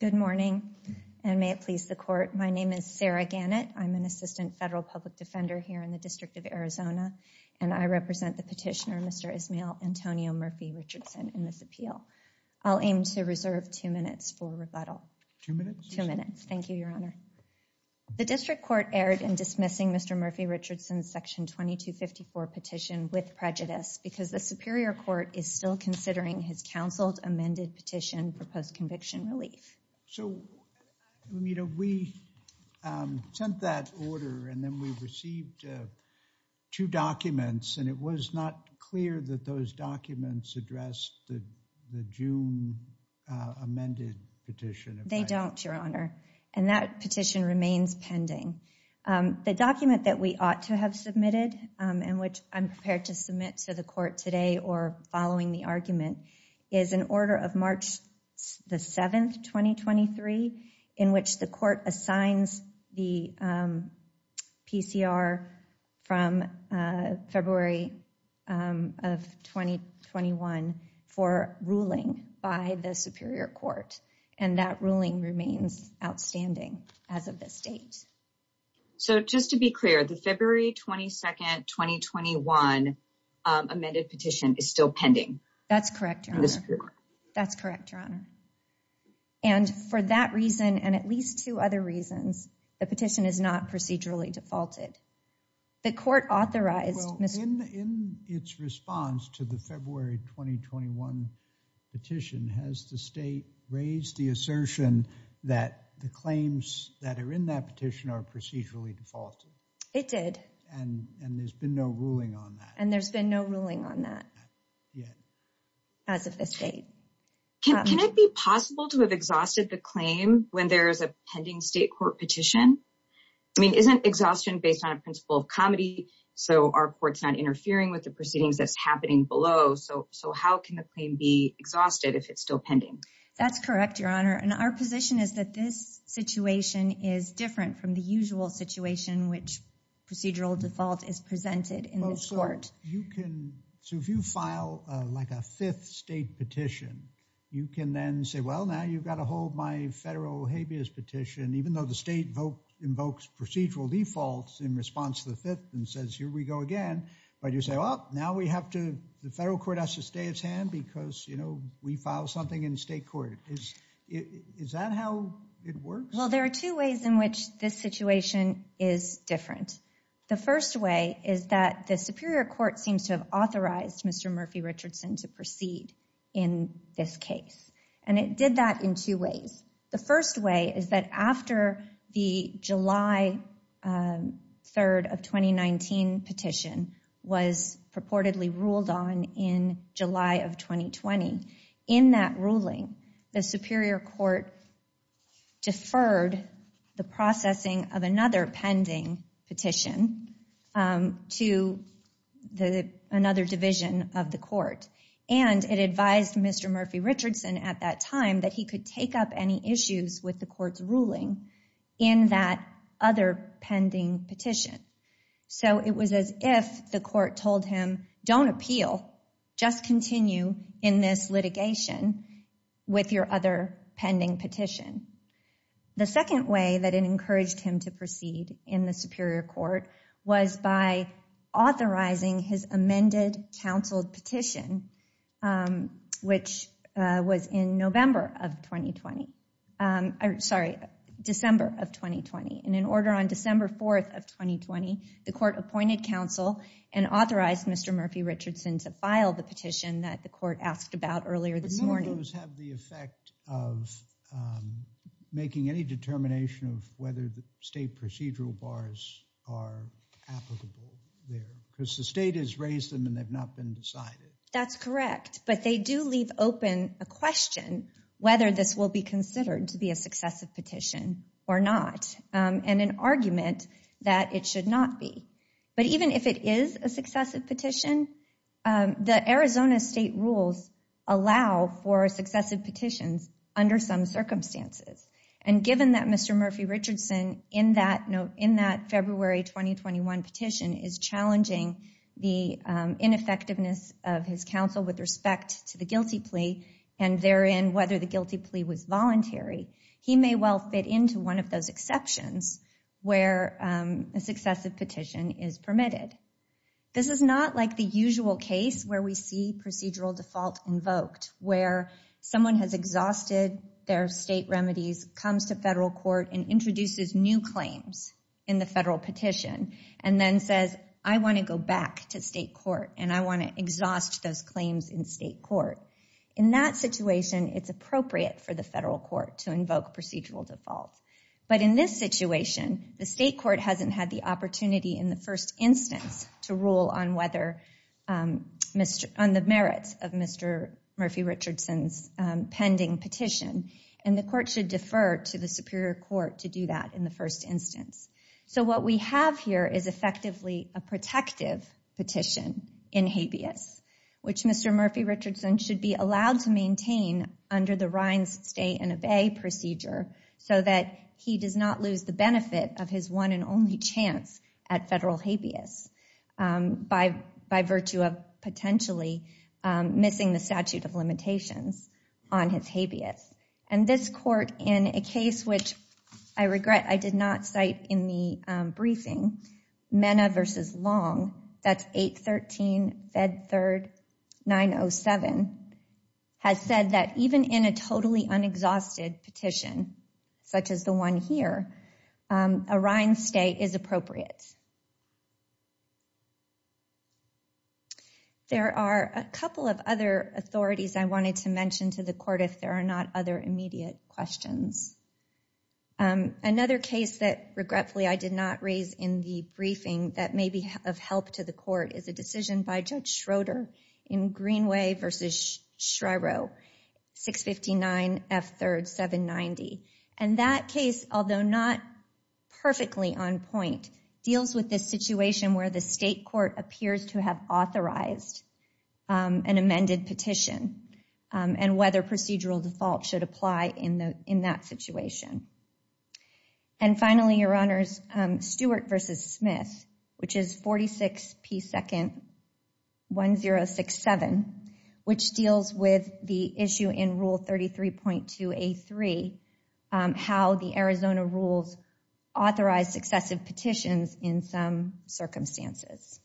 Good morning, and may it please the Court. My name is Sarah Gannett. I'm an Assistant Federal Public Defender here in the District of Arizona, and I represent the petitioner, Mr. Ismael Antonio Murphy-Richardson, in this appeal. I'll aim to reserve two minutes for rebuttal. Two minutes? Two minutes. Thank you, Your Honor. The District Court erred in dismissing Mr. Murphy-Richardson's Section 2254 petition with prejudice because the Superior Court is still considering his counseled amended petition for post-conviction relief. So, you know, we sent that order, and then we received two documents, and it was not clear that those documents addressed the June amended petition. They don't, Your Honor, and that petition remains pending. The document that we ought to have submitted and which I'm prepared to submit to the Court today or following the argument is an order of March the 7th, 2023, in which the Court assigns the PCR from February of 2021 for ruling by the Superior Court, and that ruling remains outstanding as of this date. So, just to be clear, the February 22nd, 2021 amended petition is still pending? That's correct, Your Honor. That's correct, Your Honor. And for that reason, and at least two other reasons, the petition is not procedurally defaulted. The Court authorized... Well, in its response to the February 2021 petition, has the State raised the assertion that the claims that are in that petition are procedurally defaulted? It did. And there's been no ruling on that? And there's been no ruling on that. Yet. As of this date. Can it be possible to have exhausted the claim when there is a pending State Court petition? I mean, isn't exhaustion based on a principle of comedy so our Court's not interfering with the proceedings that's happening below? So, how can the claim be still pending? That's correct, Your Honor. And our position is that this situation is different from the usual situation which procedural default is presented in this Court. So, if you file like a fifth State petition, you can then say, well, now you've got to hold my federal habeas petition, even though the State invokes procedural defaults in response to the fifth and says, here we go again. But you say, well, now we have to, the Federal Court has to stay its hand because, you know, we file something in State Court. Is that how it works? Well, there are two ways in which this situation is different. The first way is that the Superior Court seems to have authorized Mr. Murphy Richardson to proceed in this case. And it did that in two ways. The first way is that after the July 3rd of 2019 petition was purportedly ruled on in July of 2020, in that ruling, the Superior Court deferred the processing of another pending petition to another division of the Court. And it advised Mr. Murphy Richardson at that time that he could take up any issues with the Court's ruling in that other pending petition. So, it was as if the Court told him, don't appeal, just continue in this litigation with your other pending petition. The second way that it encouraged him to proceed in the Superior Court was by authorizing his amended counseled petition, which was in November of 2020, sorry, December of 2020. And in order on December 4th of 2020, the Court appointed counsel and authorized Mr. Murphy Richardson to file the petition that the Court asked about earlier this morning. But none of those have the effect of making any determination of whether the State procedural bars are applicable there because the State has raised them and they've not been decided. That's correct, but they do leave open a question whether this will be considered to be a successive petition or not and an argument that it should not be. But even if it is a successive petition, the Arizona State rules allow for successive petitions under some circumstances. And given that Mr. Murphy Richardson in that February 2021 petition is challenging the ineffectiveness of his counsel with respect to the guilty plea and therein whether the guilty plea was voluntary, he may well fit into one of those exceptions where a successive petition is permitted. This is not like the usual case where we see procedural default invoked, where someone has exhausted their State remedies, comes to Federal Court and introduces new claims in the Federal petition and then says, I want to go back to State Court and I want to exhaust those claims in State Court. In that situation, it's appropriate for the Federal Court to invoke procedural default. But in this situation, the State Court hasn't had the opportunity in the first instance to rule on the merits of Mr. Murphy Richardson's pending petition and the Court should defer to the Superior Court to do that in the first instance. So what we have here is effectively a protective petition in habeas, which Mr. Murphy Richardson should be allowed to maintain under the Rines State and Obey procedure so that he does not lose the benefit of his one and only chance at Federal habeas by virtue of potentially missing the statute of limitations on his habeas. And this Court, in a case which I regret I did not cite in the briefing, Mena v. Long, that's 813 Fed 3rd 907, has said that even in a totally authorities I wanted to mention to the Court if there are not other immediate questions. Another case that regretfully I did not raise in the briefing that may be of help to the Court is a decision by Judge Schroeder in Greenway v. Schreiro, 659 Fed 3rd 790. And that case, although not perfectly on point, deals with this situation where the State Court appears to have authorized an amended petition and whether procedural default should apply in that situation. And finally, Your Honors, Stewart v. Smith, which is 46 P 2nd 1067, which deals with the issue in Rule 33.2A3, how the Arizona rules authorize successive petitions in some circumstances.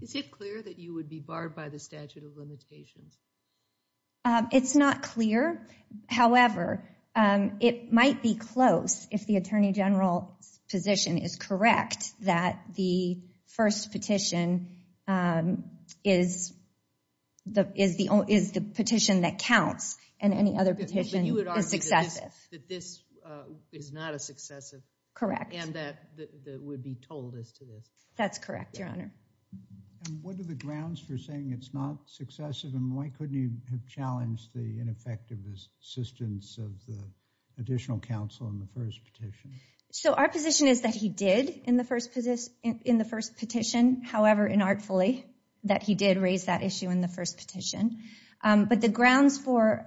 Is it clear that you would be barred by the statute of limitations? It's not clear. However, it might be close if the Attorney General's position is correct that the first petition is the petition that counts and any other petition is successive. That this is not a successive? Correct. And that would be told as to this? That's correct, Your Honor. And what are the grounds for saying it's not successive? And why couldn't you have challenged the ineffective assistance of the additional counsel in the first petition? So our position is that he did in the first petition. However, inartfully, that he did raise that issue in the first petition. But the grounds for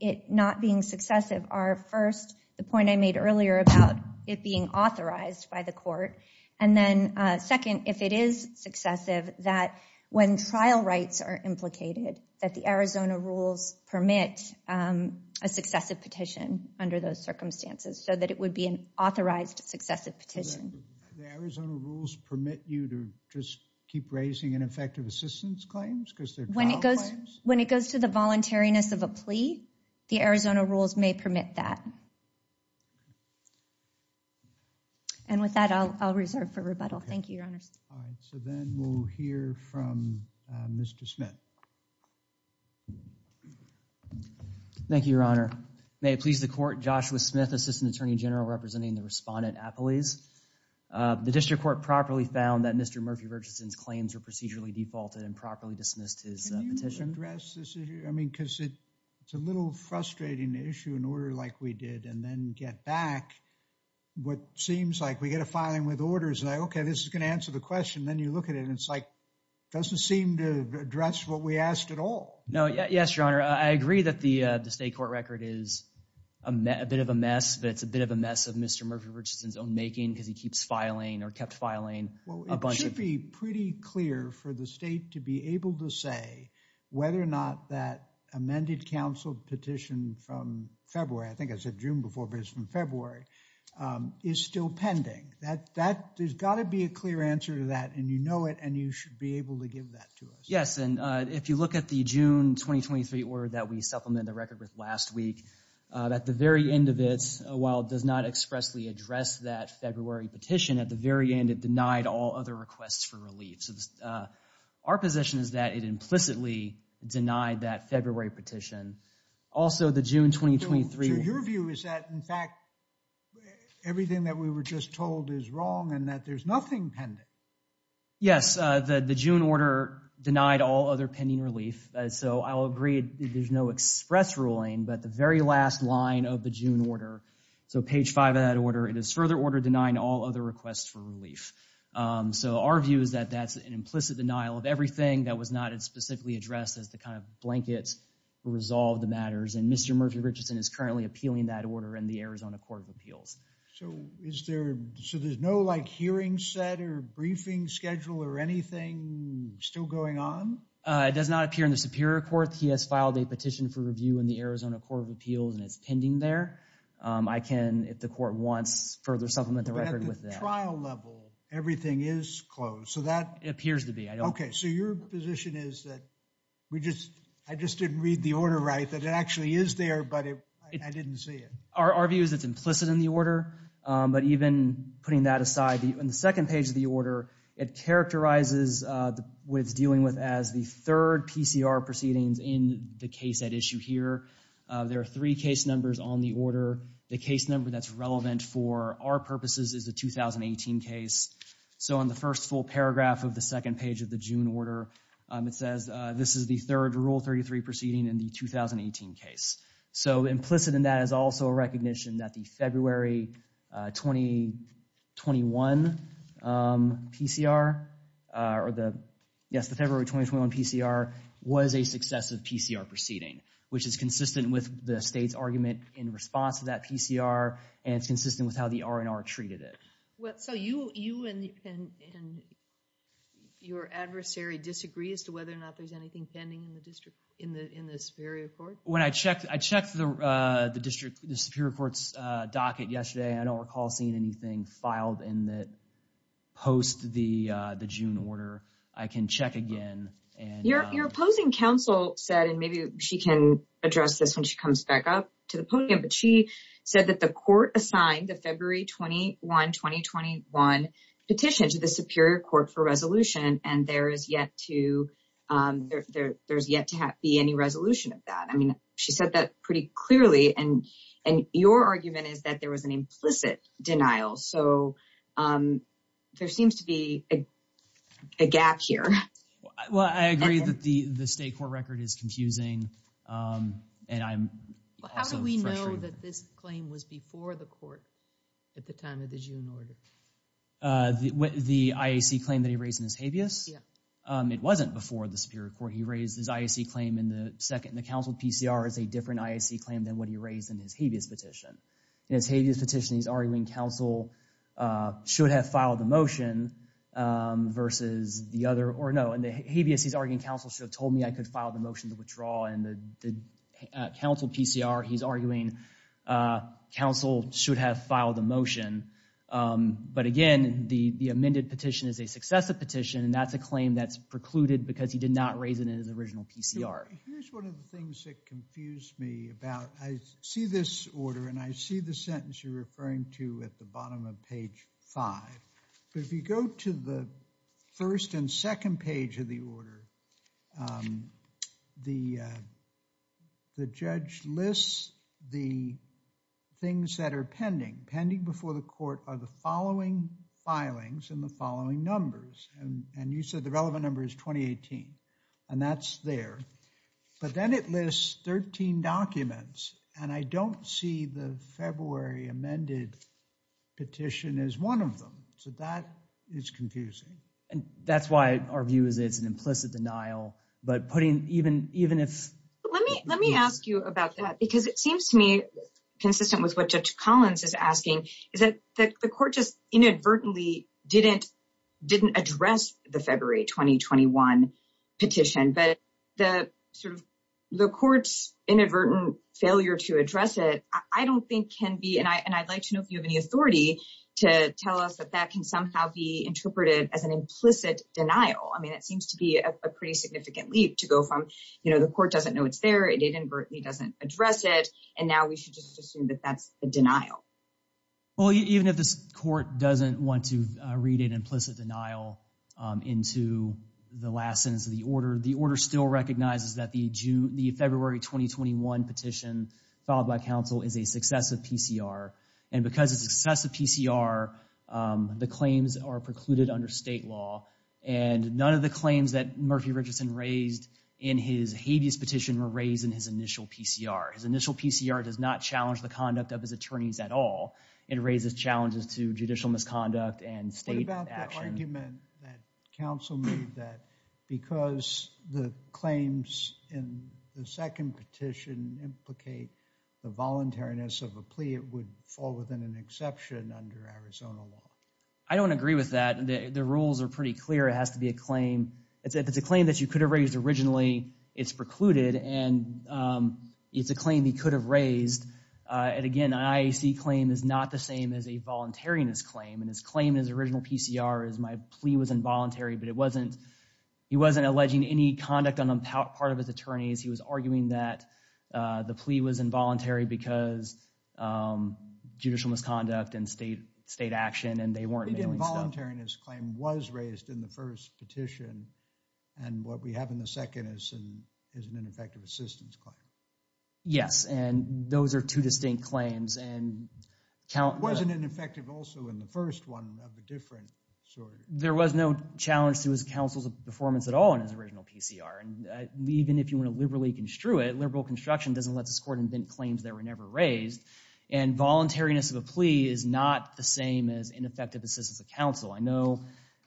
it not being successive are first, the point I made earlier about it being authorized by the court. And then second, if it is successive, that when trial rights are implicated, that the Arizona rules permit a successive petition under those circumstances so that it would be an authorized successive petition. The Arizona rules permit you to just keep raising ineffective assistance claims because they're trial claims? When it goes to the voluntariness of a plea, the Arizona rules may permit that. And with that, I'll reserve for rebuttal. Thank you, Your Honor. All right. So then we'll hear from Mr. Smith. Thank you, Your Honor. May it please the court, Joshua Smith, Assistant Attorney General representing the respondent at police. The district court properly found that Mr. Murphy Virginson's claims were procedurally defaulted and properly dismissed his petition. Can you address this issue? I mean, because it's a little frustrating to issue an order like we did and then get back what seems like we get a filing with orders. Okay, this is going to answer the question. Then you look at it and it's like, doesn't seem to address what we asked at all. No, yes, Your Honor. I agree that the state court record is a bit of a mess, but it's a bit of a Mr. Murphy Virginson's own making because he keeps filing or kept filing. Well, it should be pretty clear for the state to be able to say whether or not that amended counsel petition from February, I think I said June before, but it's from February, is still pending. There's got to be a clear answer to that and you know it and you should be able to give that to us. Yes, and if you look at the June 2023 order that we supplemented the record with last week, at the very end of it, while it does not expressly address that February petition, at the very end it denied all other requests for relief. So our position is that it implicitly denied that February petition. Also the June 2023. So your view is that in fact everything that we were just told is wrong and that there's nothing pending? Yes, the June order denied all other pending relief. So I'll agree there's no express ruling, but the very last line of the June order, so page five of that order, it is further order denying all other requests for relief. So our view is that that's an implicit denial of everything that was not specifically addressed as the kind of blanket to resolve the matters and Mr. Murphy Richardson is currently appealing that order in the Arizona Court of Appeals. So is there, so there's no like hearing set or briefing schedule or anything still going on? It does appear in the Superior Court. He has filed a petition for review in the Arizona Court of Appeals and it's pending there. I can, if the court wants, further supplement the record with that. At the trial level, everything is closed. So that appears to be. Okay, so your position is that we just, I just didn't read the order right, that it actually is there, but I didn't see it. Our view is it's implicit in the order, but even putting that aside, in the second page of the PCR proceedings in the case at issue here, there are three case numbers on the order. The case number that's relevant for our purposes is the 2018 case. So on the first full paragraph of the second page of the June order, it says this is the third Rule 33 proceeding in the 2018 case. So implicit in that is also a recognition that the February 2021 PCR, or the, yes, February 2021 PCR was a successive PCR proceeding, which is consistent with the state's argument in response to that PCR and it's consistent with how the R&R treated it. So you and your adversary disagree as to whether or not there's anything pending in the district, in the Superior Court? When I checked, I checked the district, the Superior Court's docket yesterday. I don't recall seeing anything filed in the, post the June order. I can check again. Your opposing counsel said, and maybe she can address this when she comes back up to the podium, but she said that the court assigned the February 21, 2021 petition to the Superior Court for resolution and there is yet to, there's yet to be any resolution of that. I mean, she said that pretty clearly and your argument is that there was an implicit denial. So there seems to be a gap here. Well, I agree that the, the state court record is confusing. And I'm also- How do we know that this claim was before the court at the time of the June order? The IAC claim that he raised in his habeas? It wasn't before the Superior Court. He raised his IAC claim in the second, in the counsel PCR as a different IAC claim than what he raised in his petition. In his habeas petition, he's arguing counsel should have filed the motion versus the other, or no, in the habeas, he's arguing counsel should have told me I could file the motion to withdraw and the counsel PCR, he's arguing counsel should have filed the motion. But again, the amended petition is a successive petition and that's a claim that's precluded because he did not raise it in his original PCR. Here's one of the things that confused me about, I see this order and I see the sentence you're referring to at the bottom of page five. But if you go to the first and second page of the order, the, the judge lists the things that are pending, pending before the court are the following filings and the following numbers. And, and you said the relevant number is 2018 and that's there. But then it lists 13 documents and I don't see the February amended petition as one of them. So that is confusing. And that's why our view is it's an implicit denial, but putting even, even if. Let me, let me ask you about that because it seems to me consistent with what Judge Collins is asking, is that the court just inadvertently didn't, didn't address the February 2021 petition, but the sort of the court's inadvertent failure to address it, I don't think can be. And I, and I'd like to know if you have any authority to tell us that that can somehow be interpreted as an implicit denial. I mean, it seems to be a pretty significant leap to go from, you know, the court doesn't know it's there. It inadvertently doesn't address it. And now we should just assume that that's a denial. Well, even if this court doesn't want to read an implicit denial into the last sentence of the order, the order still recognizes that the June, the February 2021 petition filed by counsel is a successive PCR. And because it's successive PCR, the claims are precluded under state law. And none of the claims that Murphy Richardson raised in his habeas petition were raised in his initial PCR. His initial PCR does not challenge the conduct of his attorneys at all. It raises challenges to judicial misconduct and state action. What about the argument that counsel made that because the claims in the second petition implicate the voluntariness of a plea, it would fall within an exception under Arizona law? I don't agree with that. The rules are pretty clear. It has to be a claim. If it's a claim that you could have raised originally, it's precluded. And it's a claim he could have raised. And again, an IAC claim is not the same as a voluntariness claim. And his claim in his original PCR is my plea was involuntary, but it wasn't, he wasn't alleging any conduct on the part of his attorneys. He was arguing that the plea was involuntary because judicial misconduct and state action and they weren't involuntary in his claim was raised in the first petition. And what we have in the second is an ineffective assistance claim. Yes. And those are two distinct claims. And it wasn't ineffective also in the first one of a different sort. There was no challenge to his counsel's performance at all in his original PCR. And even if you want to liberally construe it, liberal construction doesn't let this court invent claims that were never raised. And voluntariness of a plea is not the same as ineffective assistance of counsel. I know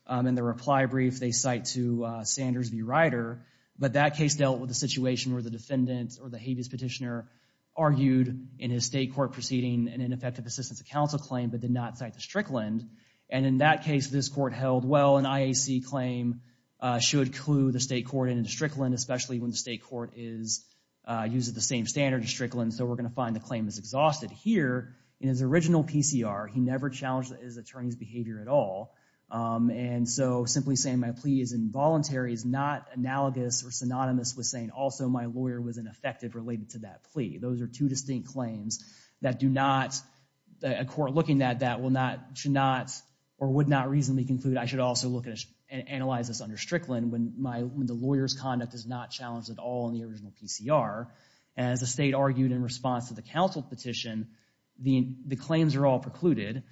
in the reply brief, they cite to Sanders v. Ryder, but that case dealt with a situation where the defendant or the habeas petitioner argued in his state court proceeding and ineffective assistance of counsel claim, but did not cite the Strickland. And in that case, this court held, well, an IAC claim should clue the state court into Strickland, especially when the state court is using the same standard in Strickland. So we're going to find the claim is exhausted. Here in his original PCR, he never challenged his attorney's behavior at all. And so simply saying my plea is involuntary is not analogous or synonymous with saying also my lawyer was ineffective related to that plea. Those are two distinct claims that do not, a court looking at that will not, should not, or would not reasonably conclude I should also look at and analyze this under Strickland when my, when the lawyer's conduct is not challenged at all in the original PCR. As the state argued in response to the counsel petition, the claims are all precluded.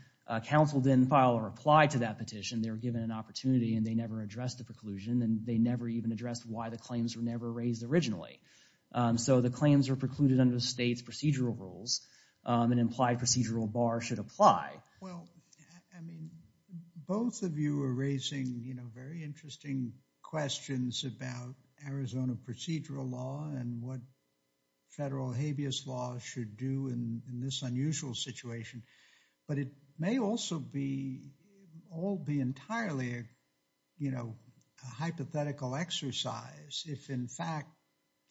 Counsel didn't file a reply to that petition. They were given an opportunity and they never addressed the preclusion and they never even addressed why the claims were never raised originally. So the claims are precluded under the state's procedural rules and implied procedural bar should apply. Well, I mean, both of you are raising, you know, very interesting questions about Arizona procedural law and what federal habeas laws should do in this unusual situation, but it may also be all be entirely, you know, a hypothetical exercise if in fact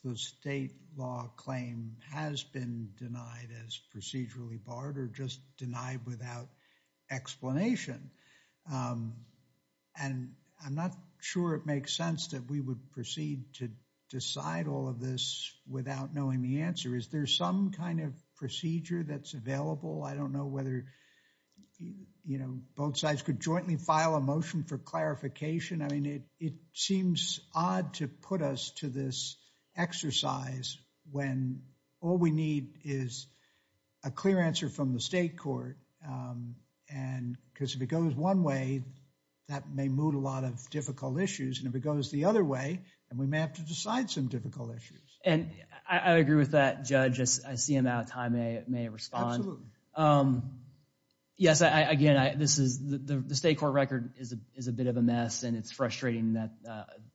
the state law claim has been denied as procedurally barred or just denied without explanation. And I'm not sure it makes sense that we would proceed to decide all of this without knowing the answer. Is there some kind of procedure that's available? I don't know whether, you know, both sides could jointly file a motion for clarification. I mean, it seems odd to put us to this exercise when all we need is a clear answer from the state court and because if it goes one way, that may move a lot of difficult issues and if it goes the other way and we may have to decide some difficult issues. And I agree with that, Judge. I see him out of time. I may respond. Absolutely. Yes, I, again, I, this is the, the state court record is a, is a bit of a mess and it's frustrating that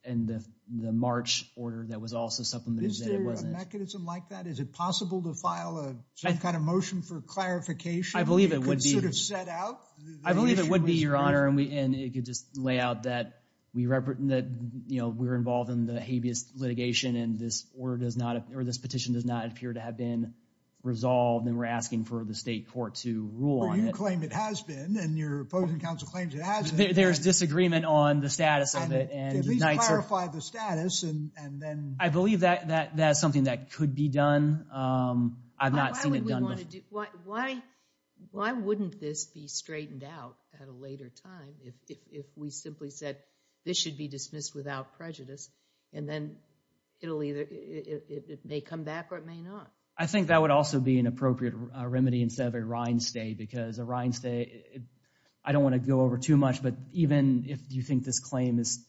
in the March order that was also supplemented. Is there a mechanism like that? Is it possible to file a, some kind of motion for clarification? I believe it would be, I believe it would be, Your Honor, and we, and it could just lay out that we rep, that, you know, we're involved in the habeas litigation and this order does not, or this petition does not appear to have been resolved and we're asking for the state court to rule on it. Well, you claim it has been and your opposing counsel claims it hasn't. There's disagreement on the status of it. At least clarify the status and, and then. I believe that, that, that's something that could be done. I've not seen it done before. Why, why, why wouldn't this be straightened out at a later time if, if, if we simply said this should be dismissed without prejudice and then it'll either, it may come back or it may not. I think that would also be an appropriate remedy instead of a rind stay because a rind stay, I don't want to go over too much, but even if you think this claim is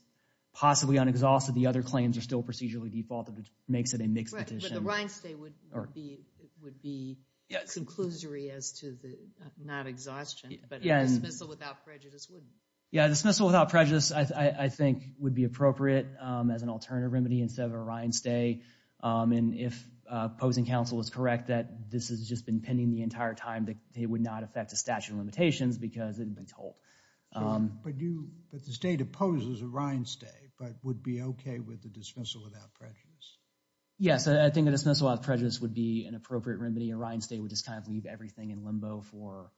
possibly unexhausted, the other claims are still procedurally defaulted, which makes it a mixed petition. The rind stay would, would be, would be a conclusory as to the, not exhaustion, but a dismissal without prejudice wouldn't. Yeah, a dismissal without prejudice, I, I think would be appropriate as an alternative remedy instead of a rind stay. And if opposing counsel is correct that this has just been pending the entire time that it would not affect the statute of limitations because it had been told. But you, but the state opposes a rind stay, but would be okay with the dismissal without prejudice? Yes, I think a dismissal without prejudice would be an appropriate remedy. A rind stay would just kind of leave everything in limbo for,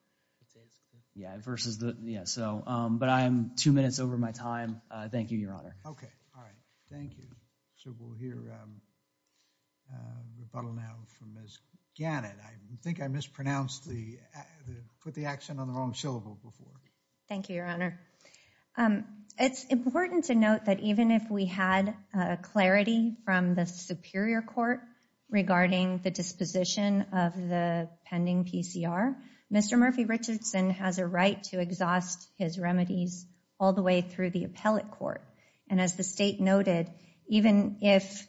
yeah, versus the, yeah, so, but I'm two minutes over my time. Thank you, Your Honor. Okay. All right. Thank you. So we'll hear rebuttal now from Ms. Gannett. I think I mispronounced the, put the accent on the wrong syllable before. Thank you, Your Honor. It's important to note that even if we had clarity from the superior court regarding the disposition of the pending PCR, Mr. Murphy Richardson has a right to exhaust his remedies all the way through the appellate court. And as the state noted, even if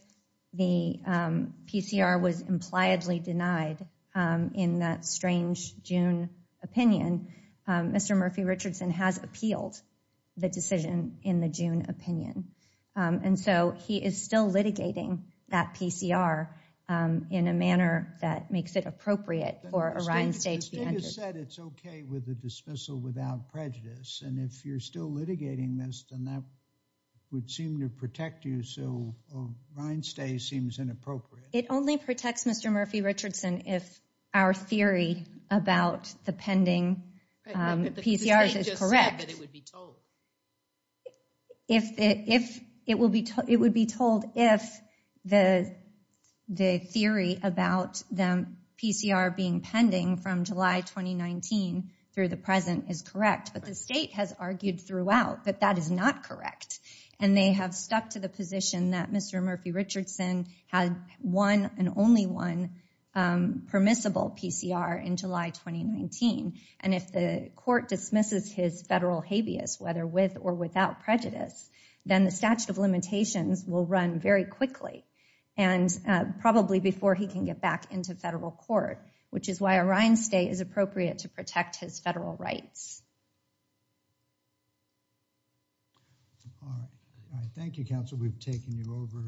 the PCR was impliedly denied in that strange June opinion, Mr. Murphy Richardson has appealed the decision in the June opinion. And so he is still litigating that PCR in a manner that makes it appropriate for a rind stay to be entered. The state has said it's okay with the dismissal without prejudice. And if you're still litigating this, then that would seem to protect you. So a rind stay seems inappropriate. It only protects Mr. Murphy Richardson. The state just said that it would be told. It would be told if the theory about the PCR being pending from July 2019 through the present is correct. But the state has argued throughout that that is not correct. And they have stuck to the position that Mr. Murphy Richardson had one and only one permissible PCR in July 2019. And if the court dismisses his federal habeas, whether with or without prejudice, then the statute of limitations will run very quickly. And probably before he can get back into federal court, which is why a rind stay is appropriate to protect his federal rights. Thank you, counsel. We've taken you over.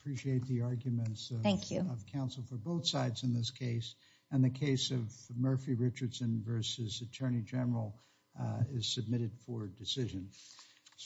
Appreciate the arguments. Thank you, counsel, for both sides in this case. And the case of Murphy Richardson versus Attorney General is submitted for decision.